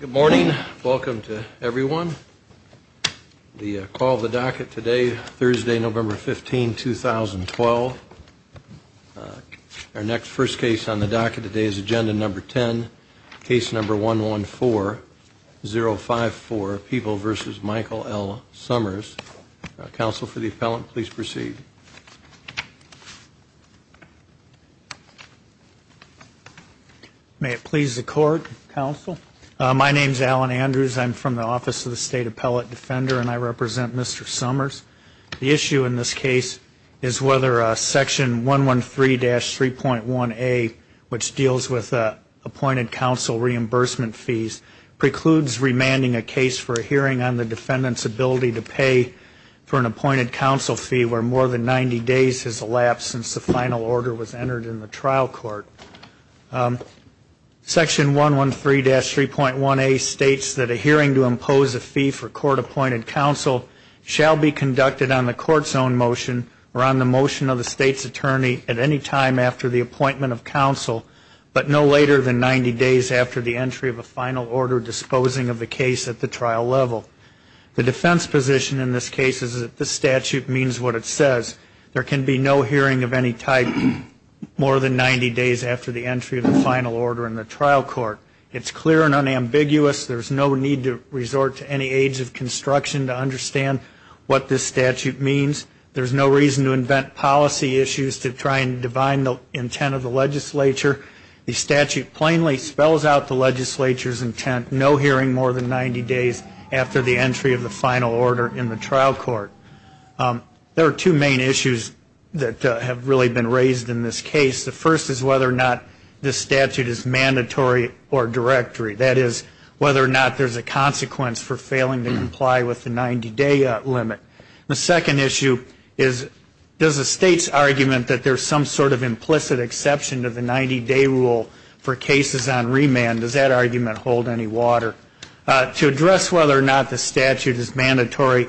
Good morning. Welcome to everyone. The call of the docket today, Thursday, November 15, 2012. Our next first case on the docket today is agenda number 10, case number 114054, People v. Michael L. Somers. Counsel for the appellant, please proceed. Thank you. May it please the Court, Counsel. My name is Alan Andrews. I'm from the Office of the State Appellate Defender, and I represent Mr. Somers. The issue in this case is whether Section 113-3.1a, which deals with appointed counsel reimbursement fees, precludes remanding a case for a hearing on the defendant's ability to pay for an appointed counsel fee where more than 90 days has elapsed since the final order was entered in the trial court. Section 113-3.1a states that a hearing to impose a fee for court-appointed counsel shall be conducted on the Court's own motion or on the motion of the State's attorney at any time after the appointment of counsel, but no later than 90 days after the entry of a final order disposing of the case at the trial level. The defense position in this case is that this statute means what it says. There can be no hearing of any type more than 90 days after the entry of the final order in the trial court. It's clear and unambiguous. There's no need to resort to any aids of construction to understand what this statute means. There's no reason to invent policy issues to try and divine the intent of the legislature. The statute plainly spells out the legislature's intent, no hearing more than 90 days after the entry of the final order in the trial court. There are two main issues that have really been raised in this case. The first is whether or not this statute is mandatory or directory, that is whether or not there's a consequence for failing to comply with the 90-day limit. The second issue is does the State's argument that there's some sort of implicit exception to the 90-day rule for cases on remand, does that argument hold any water? To address whether or not the statute is mandatory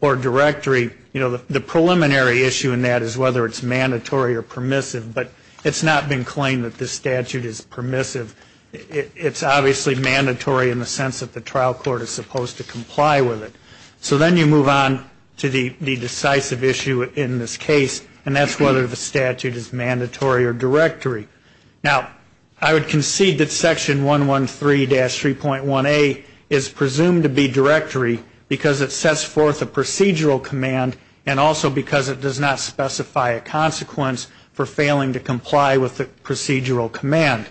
or directory, you know, the preliminary issue in that is whether it's mandatory or permissive, but it's not been claimed that this statute is permissive. It's obviously mandatory in the sense that the trial court is supposed to comply with it. So then you move on to the decisive issue in this case, and that's whether the statute is mandatory or directory. Now, I would concede that Section 113-3.1a is presumed to be directory because it sets forth a procedural command and also because it does not specify a consequence for failing to comply with the procedural command.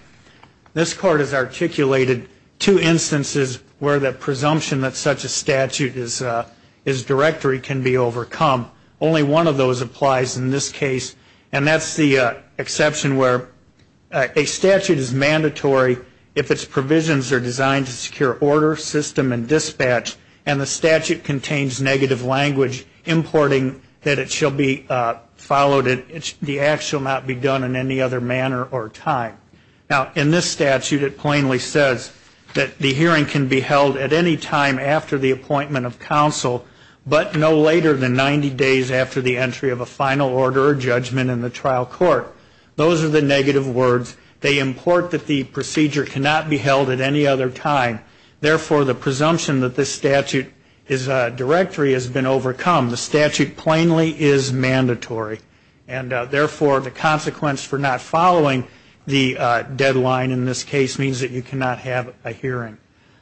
This Court has articulated two instances where the presumption that such a statute is directory can be overcome. Only one of those applies in this case, and that's the exception where a statute is mandatory if its provisions are designed to secure order, system, and dispatch, and the statute contains negative language importing that it shall be followed and that the act shall not be done in any other manner or time. Now, in this statute it plainly says that the hearing can be held at any time after the appointment of counsel, but no later than 90 days after the entry of a final order or judgment in the trial court. Those are the negative words. They import that the procedure cannot be held at any other time. Therefore, the presumption that this statute is directory has been overcome. The statute plainly is mandatory, and therefore the consequence for not following the deadline in this case means that you cannot have a hearing.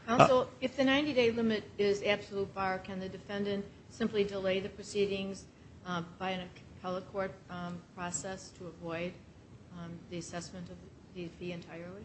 Counsel, if the 90-day limit is absolute bar, can the defendant simply delay the proceedings by an appellate court process to avoid the assessment of the fee entirely?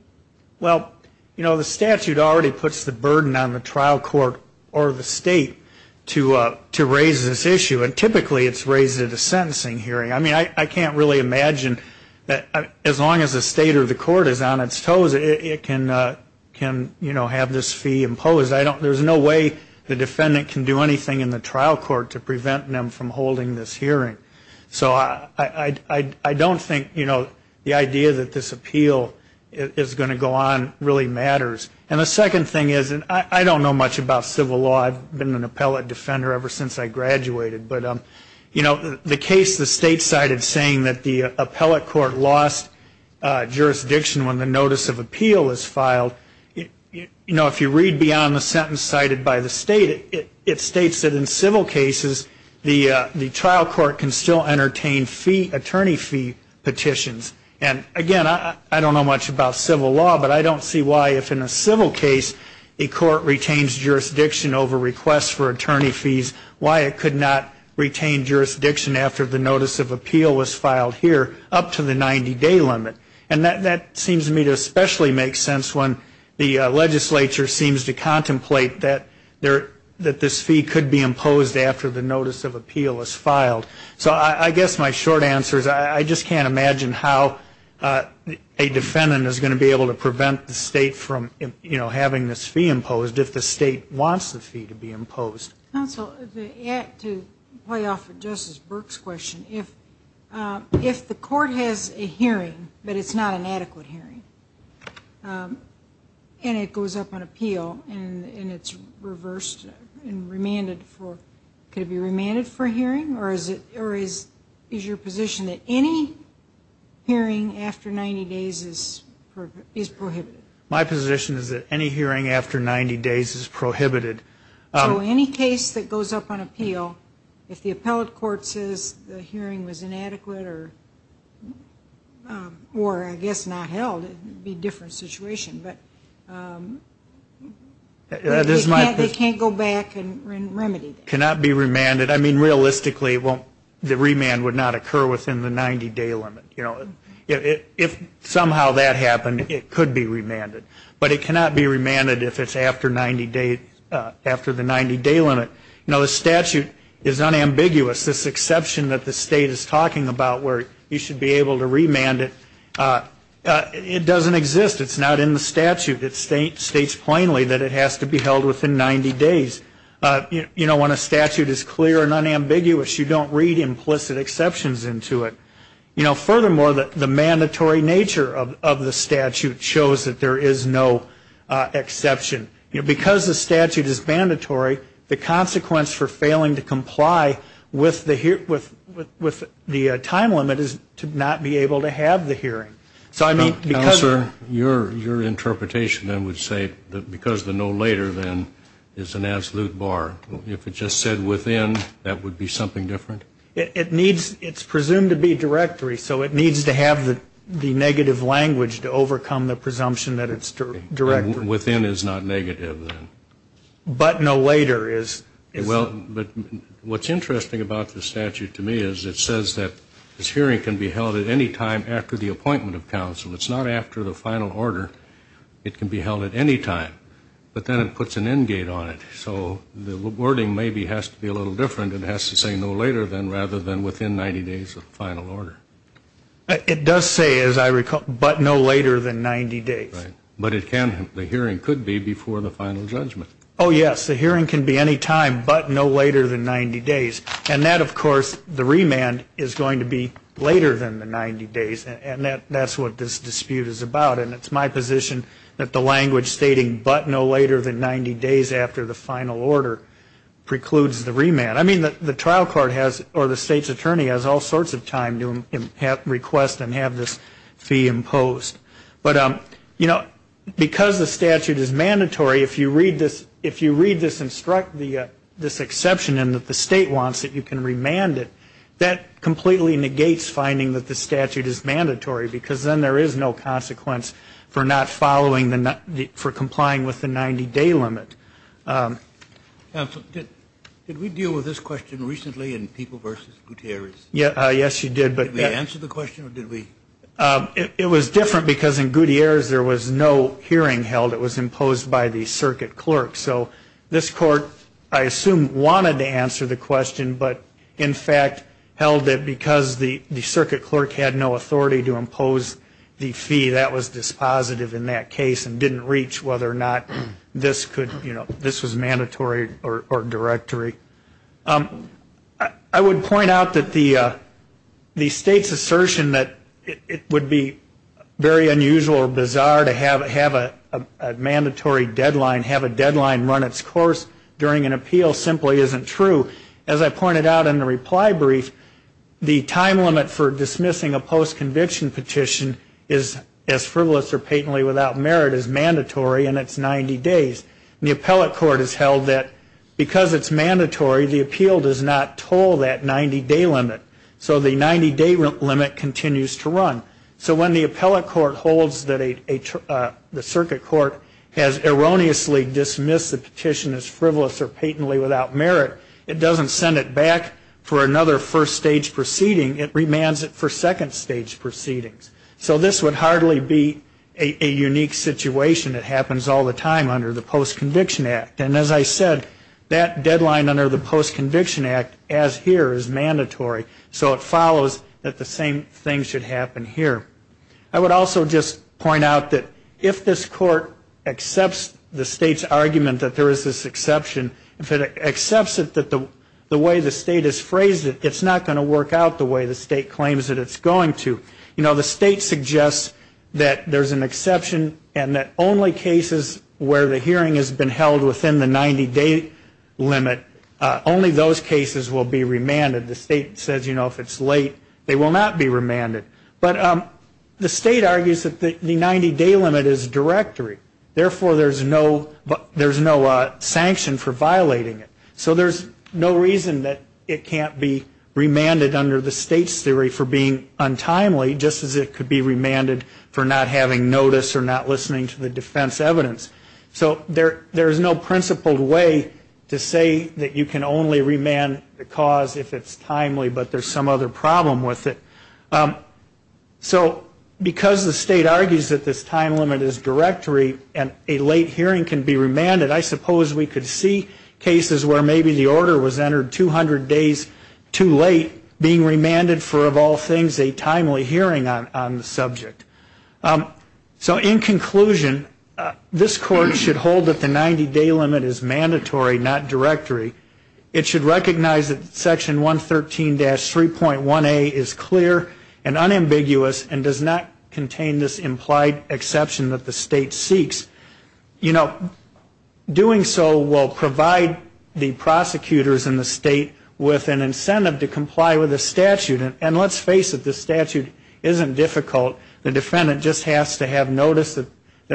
Well, you know, the statute already puts the burden on the trial court or the state to raise this issue, and typically it's raised at a sentencing hearing. I mean, I can't really imagine that as long as the state or the court is on its toes, it can, you know, have this fee imposed. There's no way the defendant can do anything in the trial court to prevent them from holding this hearing. So I don't think, you know, the idea that this appeal is going to go on really matters. And the second thing is, and I don't know much about civil law. I've been an appellate defender ever since I graduated. But, you know, the case the state cited saying that the appellate court lost jurisdiction when the notice of appeal was filed, you know, if you read beyond the sentence cited by the state, it states that in civil cases, the trial court can still entertain fee, attorney fee petitions. And, again, I don't know much about civil law, but I don't see why if in a civil case, a court retains jurisdiction over requests for attorney fees, why it could not retain jurisdiction after the notice of appeal was filed here up to the 90-day limit. And that seems to me to especially make sense when the legislature seems to contemplate that this fee could be imposed after the notice of appeal is filed. So I guess my short answer is I just can't imagine how a defendant is going to be able to prevent the state from, you know, having this fee imposed if the state wants the fee to be imposed. Counsel, to play off of Justice Burke's question, if the court has a hearing but it's not an adequate hearing and it goes up on appeal and it's reversed and remanded for, could it be remanded for a hearing? Or is your position that any hearing after 90 days is prohibited? My position is that any hearing after 90 days is prohibited. So any case that goes up on appeal, if the appellate court says the hearing was inadequate or I guess not held, it would be a different situation. But they can't go back and remedy that. It cannot be remanded. I mean, realistically, the remand would not occur within the 90-day limit. If somehow that happened, it could be remanded. But it cannot be remanded if it's after 90 days, after the 90-day limit. Now, the statute is unambiguous. This exception that the state is talking about where you should be able to remand it, it doesn't exist. It's not in the statute. It states plainly that it has to be held within 90 days. You know, when a statute is clear and unambiguous, you don't read implicit exceptions into it. You know, furthermore, the mandatory nature of the statute shows that there is no exception. Because the statute is mandatory, the consequence for failing to comply with the time limit is to not be able to have the hearing. Counselor, your interpretation then would say that because the no later then is an absolute bar. If it just said within, that would be something different? It's presumed to be directory, so it needs to have the negative language to overcome the presumption that it's directory. Within is not negative, then. But no later is. Well, what's interesting about the statute to me is it says that this hearing can be held at any time after the appointment of counsel. It's not after the final order. It can be held at any time. But then it puts an end gate on it. So the wording maybe has to be a little different. It has to say no later than rather than within 90 days of final order. It does say, as I recall, but no later than 90 days. Right. But the hearing could be before the final judgment. Oh, yes. The hearing can be any time but no later than 90 days. And that, of course, the remand is going to be later than the 90 days. And that's what this dispute is about. And it's my position that the language stating but no later than 90 days after the final order precludes the remand. I mean, the trial court has or the state's attorney has all sorts of time to request and have this fee imposed. But, you know, because the statute is mandatory, if you read this exception in that the state wants it, you can remand it. That completely negates finding that the statute is mandatory because then there is no consequence for not following the for complying with the 90-day limit. Counsel, did we deal with this question recently in People v. Gutierrez? Yes, you did. Did we answer the question or did we? It was different because in Gutierrez there was no hearing held. It was imposed by the circuit clerk. So this court, I assume, wanted to answer the question but, in fact, held that because the circuit clerk had no authority to impose the fee that was dispositive in that case and didn't reach whether or not this could, you know, this was mandatory or directory. I would point out that the state's assertion that it would be very unusual or bizarre to have a mandatory deadline, have a deadline run its course during an appeal simply isn't true. As I pointed out in the reply brief, the time limit for dismissing a post-conviction petition is as frivolous or patently without merit as mandatory and it's 90 days. And the appellate court has held that because it's mandatory, the appeal does not toll that 90-day limit. So when the appellate court holds that the circuit court has erroneously dismissed the petition as frivolous or patently without merit, it doesn't send it back for another first-stage proceeding. It remands it for second-stage proceedings. So this would hardly be a unique situation. It happens all the time under the Post-Conviction Act. And as I said, that deadline under the Post-Conviction Act, as here, is mandatory. So it follows that the same thing should happen here. I would also just point out that if this court accepts the state's argument that there is this exception, if it accepts it that the way the state has phrased it, it's not going to work out the way the state claims that it's going to. You know, the state suggests that there's an exception and that only cases where the hearing has been held within the 90-day limit, only those cases will be remanded. The state says, you know, if it's late, they will not be remanded. But the state argues that the 90-day limit is directory. Therefore, there's no sanction for violating it. So there's no reason that it can't be remanded under the state's theory for being untimely, just as it could be remanded for not having notice or not listening to the defense evidence. So there's no principled way to say that you can only remand the cause if it's timely, but there's some other problem with it. So because the state argues that this time limit is directory and a late hearing can be remanded, I suppose we could see cases where maybe the order was entered 200 days too late, being remanded for, of all things, a timely hearing on the subject. So in conclusion, this court should hold that the 90-day limit is mandatory, not directory. It should recognize that Section 113-3.1a is clear and unambiguous and does not contain this implied exception that the state seeks. You know, doing so will provide the prosecutors and the state with an incentive to comply with the statute. And let's face it, this statute isn't difficult. The defendant just has to have notice that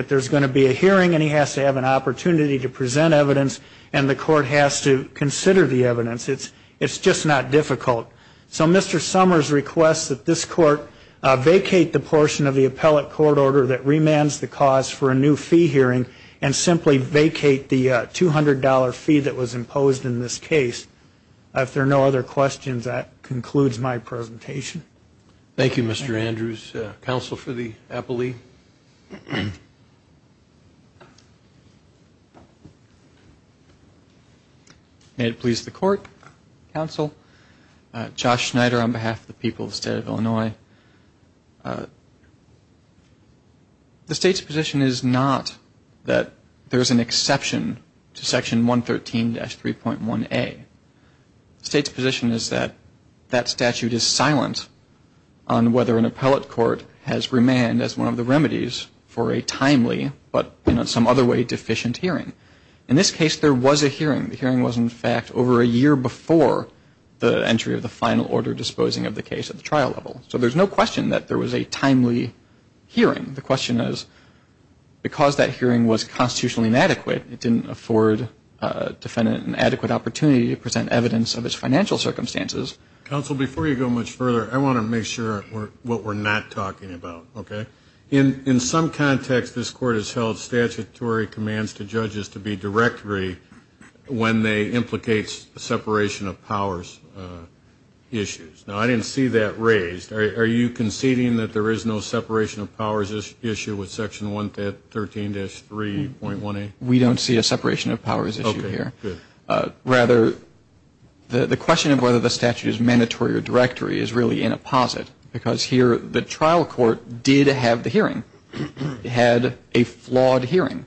there's going to be a hearing and he has to have an opportunity to present evidence, and the court has to consider the evidence. It's just not difficult. So Mr. Summers requests that this court vacate the portion of the appellate court order that remands the cause for a new fee hearing and simply vacate the $200 fee that was imposed in this case. If there are no other questions, that concludes my presentation. Thank you, Mr. Andrews. Counsel for the appellee. May it please the court, counsel. Josh Schneider on behalf of the people of the state of Illinois. The state's position is not that there's an exception to Section 113-3.1a. The state's position is that that statute is silent on whether an appellate court has remand as one of the remedies for a timely but in some other way deficient hearing. In this case, there was a hearing. The hearing was in fact over a year before the entry of the final order disposing of the case at the trial level. So there's no question that there was a timely hearing. The question is, because that hearing was constitutionally inadequate, it didn't afford defendant an adequate opportunity to present evidence of its financial circumstances. Counsel, before you go much further, I want to make sure what we're not talking about, okay? In some context, this court has held statutory commands to judges to be directory when they implicate separation of powers issues. Now, I didn't see that raised. Are you conceding that there is no separation of powers issue with Section 113-3.1a? We don't see a separation of powers issue here. Okay, good. Rather, the question of whether the statute is mandatory or directory is really in a posit, because here the trial court did have the hearing, had a flawed hearing.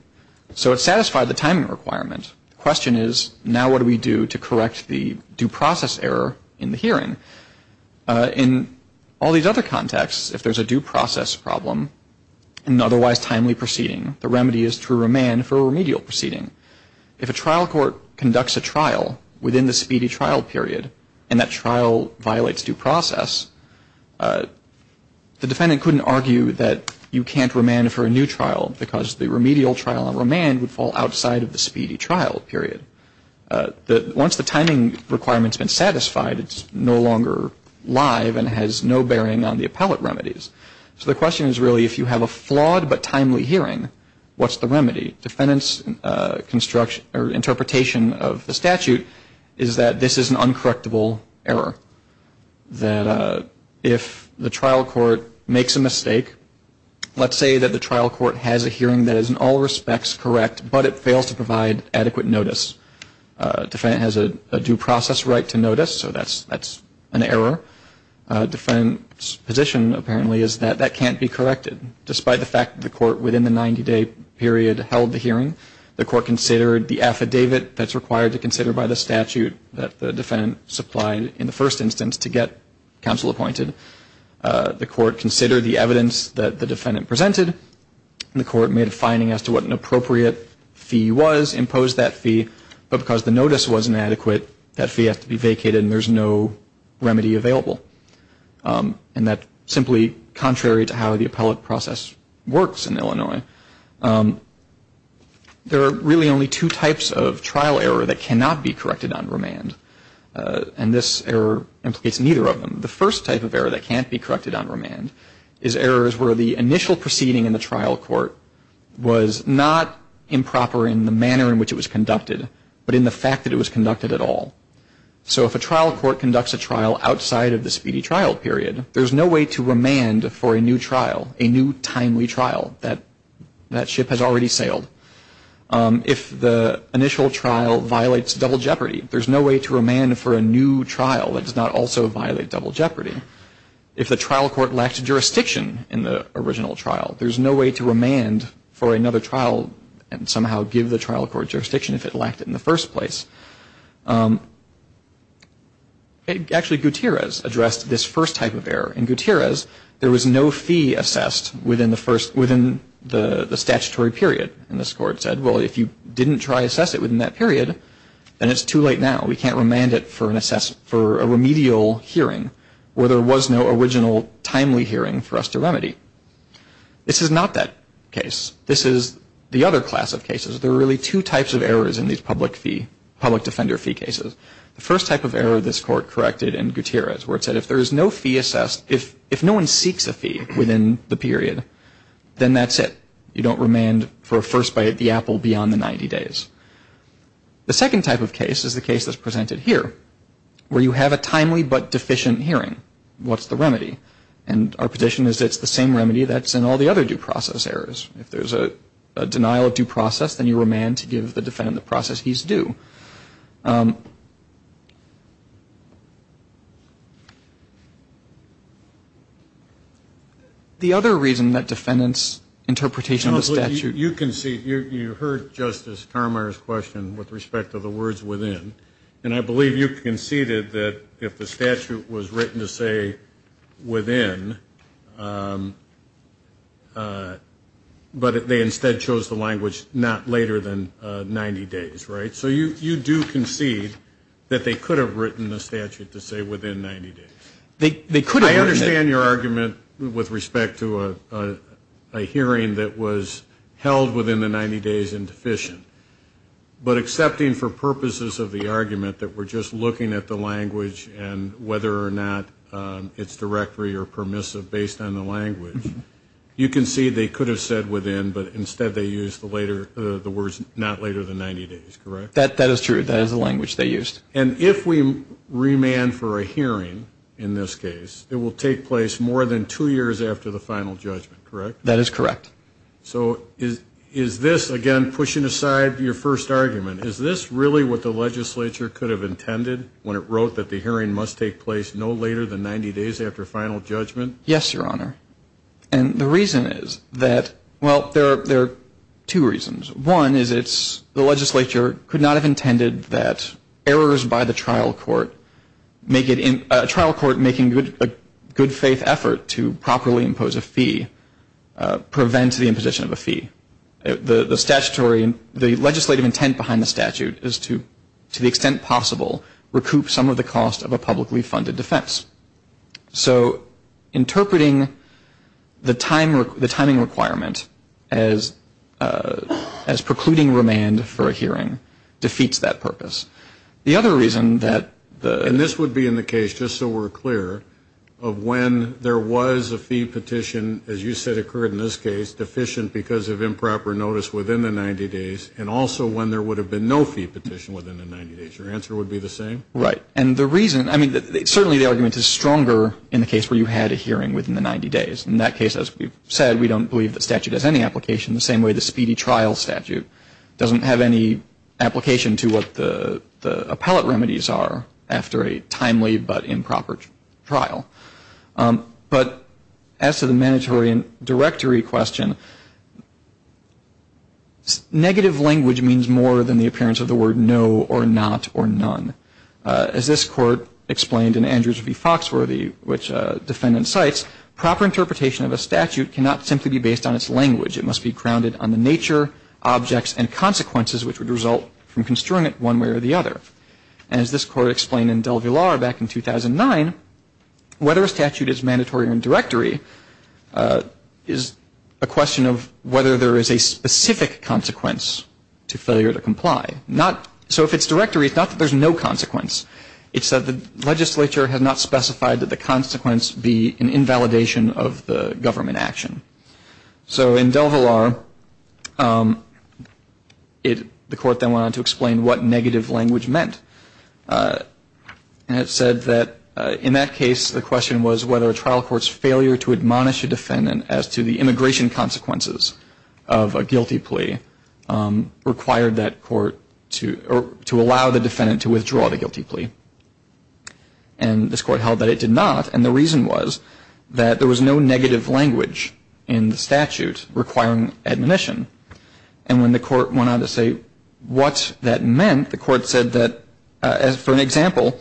So it satisfied the timing requirement. The question is, now what do we do to correct the due process error in the hearing? In all these other contexts, if there's a due process problem, an otherwise timely proceeding, the remedy is to remand for a remedial proceeding. If a trial court conducts a trial within the speedy trial period and that trial violates due process, the defendant couldn't argue that you can't remand for a new trial because the remedial trial and remand would fall outside of the speedy trial period. Once the timing requirement's been satisfied, it's no longer live and has no bearing on the appellate remedies. So the question is really, if you have a flawed but timely hearing, what's the remedy? Defendant's construction or interpretation of the statute is that this is an uncorrectable error. That if the trial court makes a mistake, let's say that the trial court has a hearing that is in all respects correct, but it fails to provide adequate notice. Defendant has a due process right to notice, so that's an error. Defendant's position apparently is that that can't be corrected. Despite the fact that the court within the 90-day period held the hearing, the court considered the affidavit that's required to consider by the statute that the defendant supplied in the first instance to get counsel appointed. The court considered the evidence that the defendant presented, and the court made a finding as to what an appropriate fee was, imposed that fee. But because the notice wasn't adequate, that fee has to be vacated and there's no remedy available. And that simply contrary to how the appellate process works in Illinois, there are really only two types of trial error that cannot be corrected on remand. And this error implicates neither of them. The first type of error that can't be corrected on remand is errors where the initial proceeding in the trial court was not improper in the manner in which it was conducted, but in the fact that it was conducted at all. So if a trial court conducts a trial outside of the speedy trial period, there's no way to remand for a new trial, a new timely trial. That ship has already sailed. If the initial trial violates double jeopardy, there's no way to remand for a new trial that does not also violate double jeopardy. If the trial court lacked jurisdiction in the original trial, there's no way to remand for another trial and somehow give the trial court jurisdiction if it lacked it in the first place. Actually, Gutierrez addressed this first type of error. In Gutierrez, there was no fee assessed within the statutory period. And this court said, well, if you didn't try to assess it within that period, then it's too late now. We can't remand it for a remedial hearing where there was no original timely hearing for us to remedy. This is not that case. This is the other class of cases. There are really two types of errors in these public fee, public defender fee cases. The first type of error this court corrected in Gutierrez where it said if there is no fee assessed, if no one seeks a fee within the period, then that's it. You don't remand for a first bite at the apple beyond the 90 days. The second type of case is the case that's presented here where you have a timely but deficient hearing. What's the remedy? And our position is it's the same remedy that's in all the other due process errors. If there's a denial of due process, then you remand to give the defendant the process he's due. The other reason that defendants' interpretation of the statute. You conceded. You heard Justice Carmier's question with respect to the words within. And I believe you conceded that if the statute was written to say within, but they instead chose the language not later than 90 days, right? So you do concede that they could have written the statute to say within 90 days. I understand your argument with respect to a hearing that was held within the 90 days and deficient. But accepting for purposes of the argument that we're just looking at the language and whether or not it's directory or permissive based on the language, you concede they could have said within, but instead they used the words not later than 90 days, correct? That is true. That is the language they used. And if we remand for a hearing in this case, it will take place more than two years after the final judgment, correct? That is correct. So is this, again, pushing aside your first argument, is this really what the legislature could have intended when it wrote that the hearing must take place no later than 90 days after final judgment? Yes, Your Honor. And the reason is that, well, there are two reasons. One is it's the legislature could not have intended that errors by the trial court make it in, prevent the imposition of a fee. The statutory and the legislative intent behind the statute is to, to the extent possible, recoup some of the cost of a publicly funded defense. So interpreting the timing requirement as precluding remand for a hearing defeats that purpose. The other reason that the And this would be in the case, just so we're clear, of when there was a fee petition, as you said occurred in this case, deficient because of improper notice within the 90 days, and also when there would have been no fee petition within the 90 days. Your answer would be the same? Right. And the reason, I mean, certainly the argument is stronger in the case where you had a hearing within the 90 days. In that case, as we've said, we don't believe the statute has any application. The same way the speedy trial statute doesn't have any application to what the appellate remedies are after a timely but improper trial. But as to the mandatory and directory question, negative language means more than the appearance of the word no or not or none. As this court explained in Andrews v. Foxworthy, which defendant cites, proper interpretation of a statute cannot simply be based on its language. It must be grounded on the nature, objects, and consequences which would result from construing it one way or the other. And as this court explained in DelVillar back in 2009, whether a statute is mandatory or in directory is a question of whether there is a specific consequence to failure to comply. So if it's directory, it's not that there's no consequence. It's that the legislature has not specified that the consequence be an invalidation of the government action. So in DelVillar, the court then went on to explain what negative language meant. And it said that in that case the question was whether a trial court's failure to admonish a defendant as to the immigration consequences of a guilty plea required that court to allow the defendant to withdraw the guilty plea. And this court held that it did not. And the reason was that there was no negative language in the statute requiring admonition. And when the court went on to say what that meant, the court said that, for an example,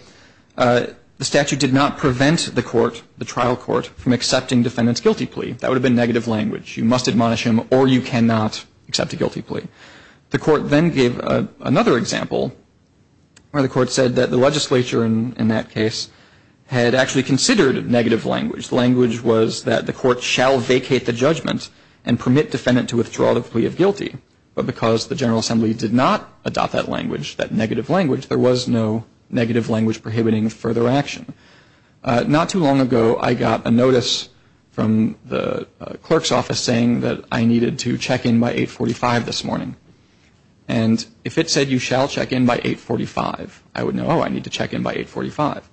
the statute did not prevent the court, the trial court, from accepting defendant's guilty plea. That would have been negative language. You must admonish him or you cannot accept a guilty plea. The court then gave another example where the court said that the legislature in that case had actually considered negative language. The language was that the court shall vacate the judgment and permit defendant to withdraw the plea of guilty. But because the General Assembly did not adopt that language, that negative language, there was no negative language prohibiting further action. Not too long ago I got a notice from the clerk's office saying that I needed to check in by 845 this morning. And if it said you shall check in by 845, I would know, oh, I need to check in by 845.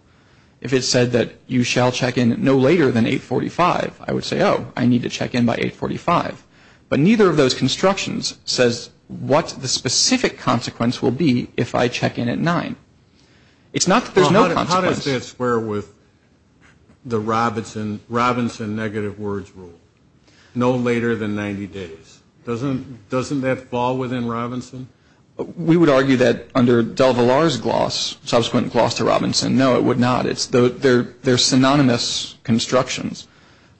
If it said that you shall check in no later than 845, I would say, oh, I need to check in by 845. But neither of those constructions says what the specific consequence will be if I check in at 9. It's not that there's no consequence. Well, how does that square with the Robinson negative words rule? No later than 90 days. Doesn't that fall within Robinson? We would argue that under DelVillar's gloss, subsequent gloss to Robinson, no, it would not. They're synonymous constructions.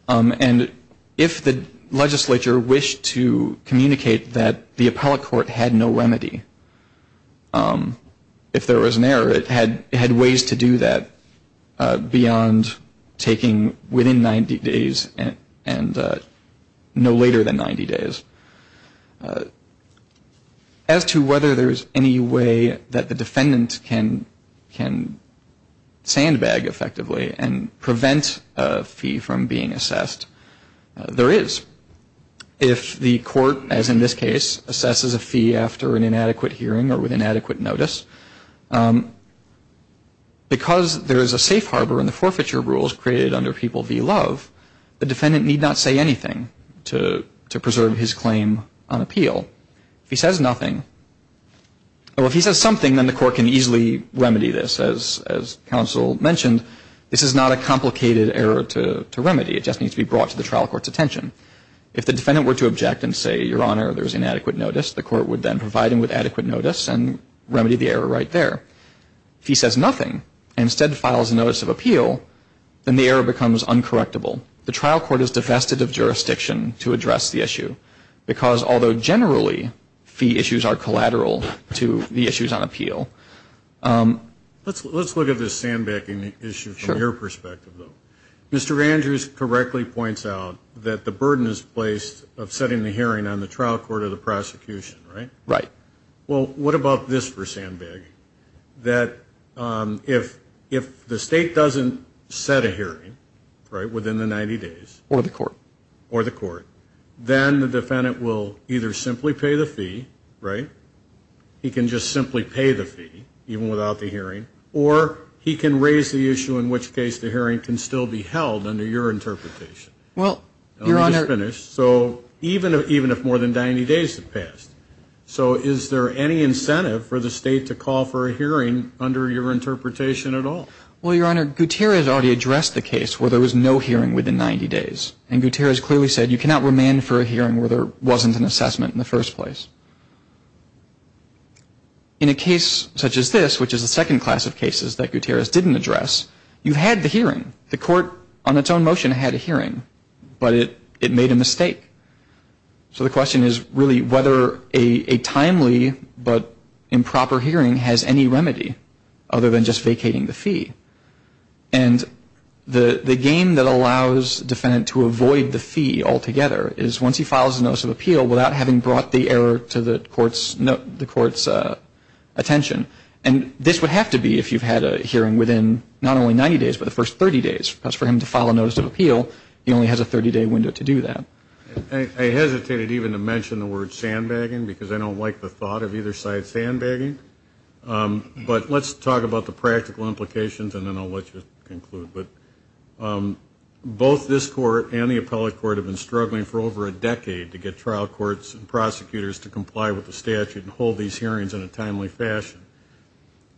And if the legislature wished to communicate that the appellate court had no remedy, if there was an error, it had ways to do that beyond taking within 90 days and no later than 90 days. As to whether there is any way that the defendant can sandbag effectively and prevent a fee from being assessed, there is. If the court, as in this case, assesses a fee after an inadequate hearing or with inadequate notice, because there is a safe harbor in the forfeiture rules created under People v. Love, the defendant need not say anything to preserve his claim on appeal. If he says nothing, or if he says something, then the court can easily remedy this. As counsel mentioned, this is not a complicated error to remedy. It just needs to be brought to the trial court's attention. If the defendant were to object and say, Your Honor, there is inadequate notice, the court would then provide him with adequate notice and remedy the error right there. If he says nothing and instead files a notice of appeal, then the error becomes uncorrectable. The trial court is divested of jurisdiction to address the issue, because although generally fee issues are collateral to the issues on appeal. Mr. Andrews correctly points out that the burden is placed of setting the hearing on the trial court or the prosecution, right? Right. Well, what about this for sandbagging? That if the state doesn't set a hearing, right, within the 90 days. Or the court. Or the court. Then the defendant will either simply pay the fee, right? He can just simply pay the fee, even without the hearing. Or he can raise the issue in which case the hearing can still be held under your interpretation. Well, Your Honor. Let me just finish. So even if more than 90 days have passed, so is there any incentive for the state to call for a hearing under your interpretation at all? Well, Your Honor, Gutierrez already addressed the case where there was no hearing within 90 days. And Gutierrez clearly said you cannot remand for a hearing where there wasn't an assessment in the first place. In a case such as this, which is a second class of cases that Gutierrez didn't address, you had the hearing. The court on its own motion had a hearing, but it made a mistake. So the question is really whether a timely but improper hearing has any remedy other than just vacating the fee. And the game that allows the defendant to avoid the fee altogether is once he files a notice of appeal without having brought the error to the court's attention. And this would have to be if you've had a hearing within not only 90 days, but the first 30 days. For him to file a notice of appeal, he only has a 30-day window to do that. I hesitated even to mention the word sandbagging because I don't like the thought of either side sandbagging. But let's talk about the practical implications, and then I'll let you conclude. But both this court and the appellate court have been struggling for over a decade to get trial courts and prosecutors to comply with the statute and hold these hearings in a timely fashion.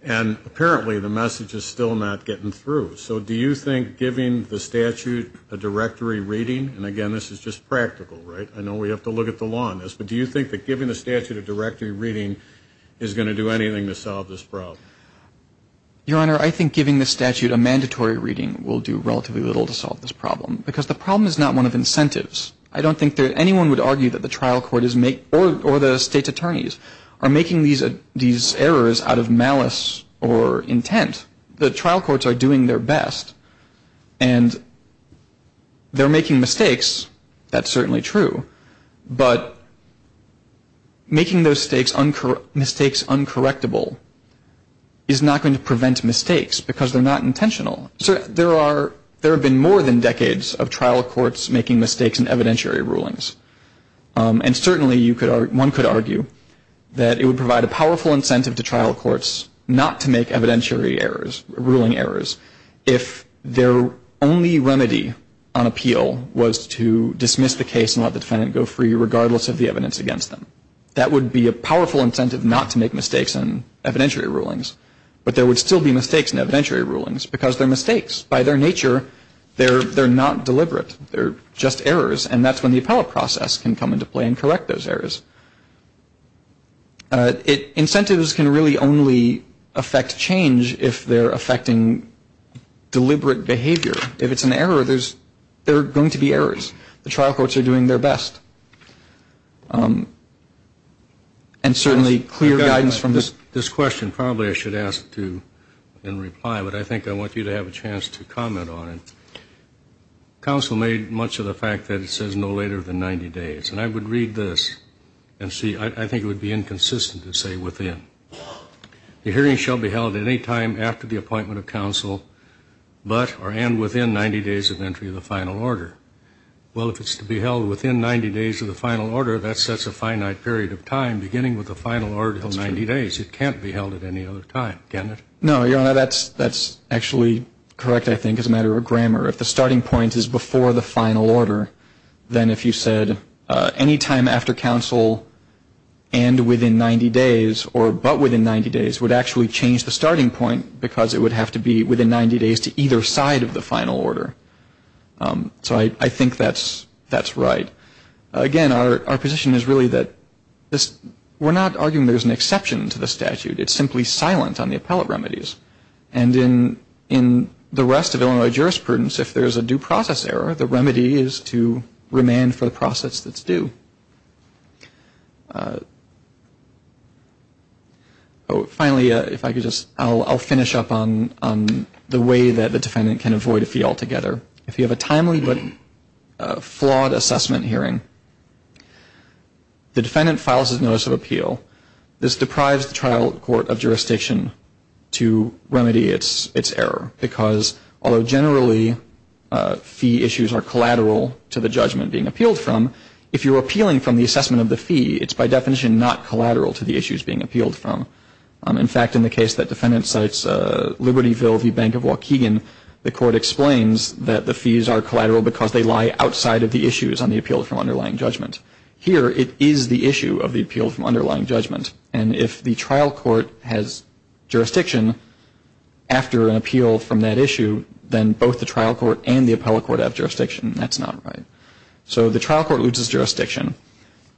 And apparently the message is still not getting through. So do you think giving the statute a directory reading, and, again, this is just practical, right? I know we have to look at the law on this, but do you think that giving the statute a directory reading is going to do anything to solve this problem? Your Honor, I think giving the statute a mandatory reading will do relatively little to solve this problem because the problem is not one of incentives. I don't think that anyone would argue that the trial court or the state's attorneys are making these errors out of malice or intent. The trial courts are doing their best, and they're making mistakes. That's certainly true. But making those mistakes uncorrectable is not going to prevent mistakes because they're not intentional. There have been more than decades of trial courts making mistakes in evidentiary rulings. And certainly one could argue that it would provide a powerful incentive to trial courts not to make evidentiary errors, ruling errors, if their only remedy on appeal was to dismiss the case and let the defendant go free regardless of the evidence against them. That would be a powerful incentive not to make mistakes in evidentiary rulings. But there would still be mistakes in evidentiary rulings because they're mistakes. By their nature, they're not deliberate. They're just errors, and that's when the appellate process can come into play and correct those errors. Incentives can really only affect change if they're affecting deliberate behavior. If it's an error, there's going to be errors. The trial courts are doing their best. And certainly clear guidance from this question probably I should ask to reply, but I think I want you to have a chance to comment on it. Counsel made much of the fact that it says no later than 90 days. And I would read this and see. I think it would be inconsistent to say within. The hearing shall be held at any time after the appointment of counsel but or and within 90 days of entry of the final order. Well, if it's to be held within 90 days of the final order, that sets a finite period of time beginning with the final order of 90 days. It can't be held at any other time, can it? No, Your Honor, that's actually correct, I think, as a matter of grammar. If the starting point is before the final order, then if you said any time after counsel and within 90 days or but within 90 days would actually change the starting point because it would have to be within 90 days to either side of the final order. So I think that's right. Again, our position is really that we're not arguing there's an exception to the statute. It's simply silent on the appellate remedies. And in the rest of Illinois jurisprudence, if there's a due process error, the remedy is to remand for the process that's due. Finally, if I could just, I'll finish up on the way that the defendant can avoid a fee altogether. If you have a timely but flawed assessment hearing, the defendant files his notice of appeal. This deprives the trial court of jurisdiction to remedy its error, because although generally fee issues are collateral to the judgment being appealed from, if you're appealing from the assessment of the fee, it's by definition not collateral to the issues being appealed from. In fact, in the case that defendant cites Libertyville v. Bank of Waukegan, the court explains that the fees are collateral because they lie outside of the issues on the appeal from underlying judgment. Here, it is the issue of the appeal from underlying judgment. And if the trial court has jurisdiction after an appeal from that issue, then both the trial court and the appellate court have jurisdiction. That's not right. So the trial court loses jurisdiction.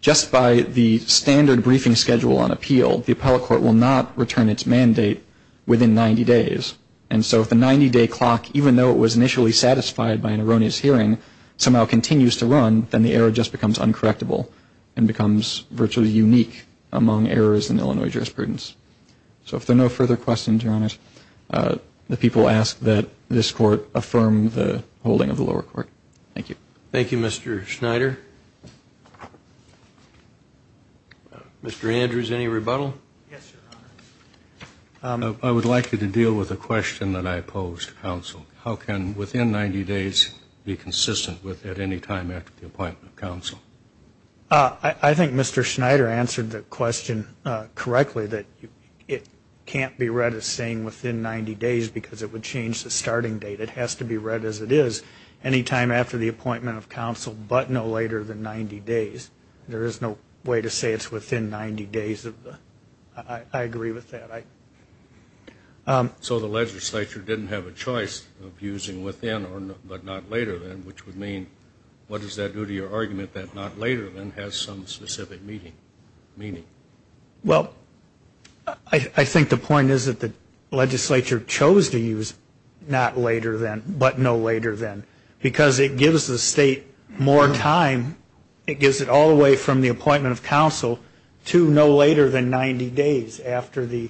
Just by the standard briefing schedule on appeal, the appellate court will not return its mandate within 90 days. And so if the 90-day clock, even though it was initially satisfied by an erroneous hearing, somehow continues to run, then the error just becomes uncorrectable and becomes virtually unique among errors in Illinois jurisprudence. So if there are no further questions, Your Honor, the people ask that this Court affirm the holding of the lower court. Thank you. Thank you, Mr. Schneider. Mr. Andrews, any rebuttal? Yes, Your Honor. I would like you to deal with a question that I posed to counsel. How can within 90 days be consistent with at any time after the appointment of counsel? I think Mr. Schneider answered the question correctly, that it can't be read as saying within 90 days because it would change the starting date. It has to be read as it is, any time after the appointment of counsel, but no later than 90 days. There is no way to say it's within 90 days. I agree with that. So the legislature didn't have a choice of using within but not later than, which would mean what does that do to your argument that not later than has some specific meaning? Well, I think the point is that the legislature chose to use not later than but no later than because it gives the state more time. It gives it all the way from the appointment of counsel to no later than 90 days after the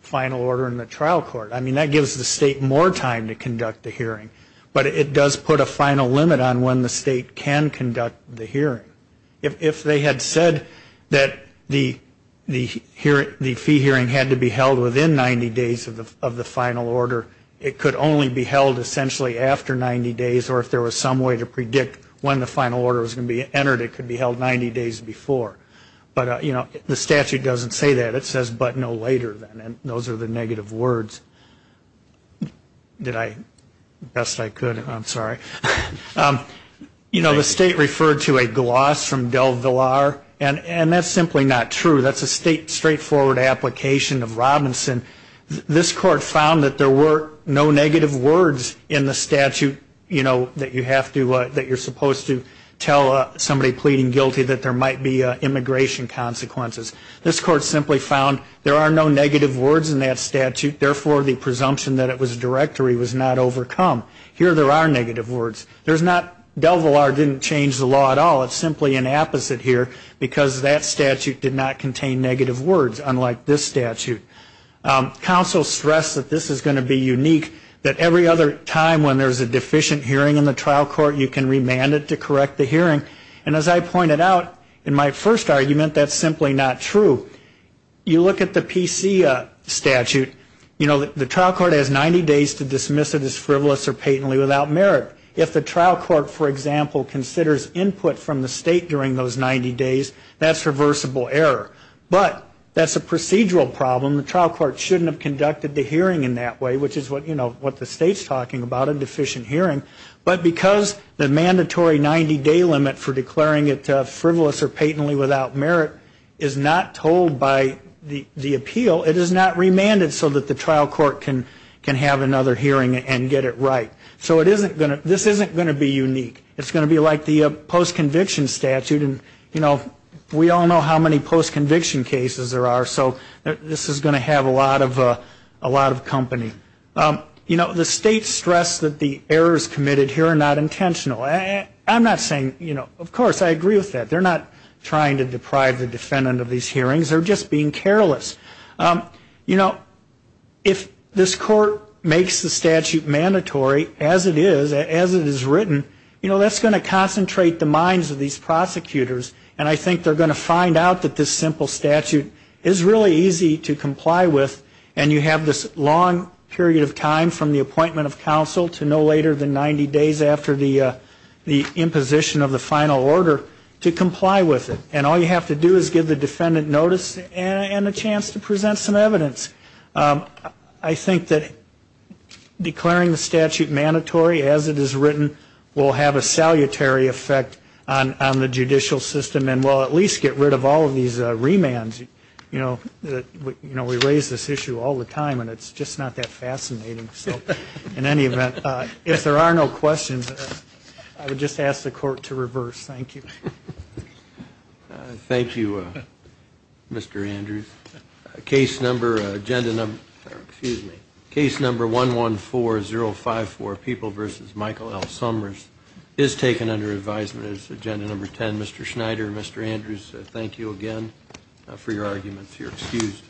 final order in the trial court. I mean that gives the state more time to conduct the hearing, but it does put a final limit on when the state can conduct the hearing. If they had said that the fee hearing had to be held within 90 days of the final order, it could only be held essentially after 90 days or if there was some way to predict when the final order was going to be entered, it could be held 90 days before. But, you know, the statute doesn't say that. It says but no later than, and those are the negative words. Did I? Best I could. I'm sorry. You know, the state referred to a gloss from DelVillar, and that's simply not true. That's a state straightforward application of Robinson. This court found that there were no negative words in the statute, you know, that you're supposed to tell somebody pleading guilty that there might be immigration consequences. This court simply found there are no negative words in that statute, therefore the presumption that it was directory was not overcome. Here there are negative words. There's not DelVillar didn't change the law at all. It's simply an opposite here because that statute did not contain negative words, unlike this statute. Counsel stressed that this is going to be unique, that every other time when there's a deficient hearing in the trial court, you can remand it to correct the hearing. And as I pointed out in my first argument, that's simply not true. You look at the PC statute, you know, the trial court has 90 days to dismiss it as frivolous or patently without merit. If the trial court, for example, considers input from the state during those 90 days, that's reversible error. But that's a procedural problem. The trial court shouldn't have conducted the hearing in that way, which is what, you know, what the state's talking about, a deficient hearing. But because the mandatory 90-day limit for declaring it frivolous or patently without merit is not told by the appeal, it is not remanded so that the trial court can have another hearing and get it right. So this isn't going to be unique. It's going to be like the post-conviction statute. And, you know, we all know how many post-conviction cases there are, so this is going to have a lot of company. You know, the state stressed that the errors committed here are not intentional. I'm not saying, you know, of course, I agree with that. They're not trying to deprive the defendant of these hearings. They're just being careless. You know, if this court makes the statute mandatory as it is, as it is written, you know, that's going to concentrate the minds of these prosecutors, and I think they're going to find out that this simple statute is really easy to comply with and you have this long period of time from the appointment of counsel to no later than 90 days after the imposition of the final order to comply with it. And all you have to do is give the defendant notice and a chance to present some evidence. I think that declaring the statute mandatory as it is written will have a salutary effect on the judicial system and will at least get rid of all of these remands. You know, we raise this issue all the time, and it's just not that fascinating. So in any event, if there are no questions, I would just ask the court to reverse. Thank you. Thank you, Mr. Andrews. Case number 114054, People v. Michael L. Summers, is taken under advisement as agenda number 10. Mr. Schneider, Mr. Andrews, thank you again for your arguments. You're excused.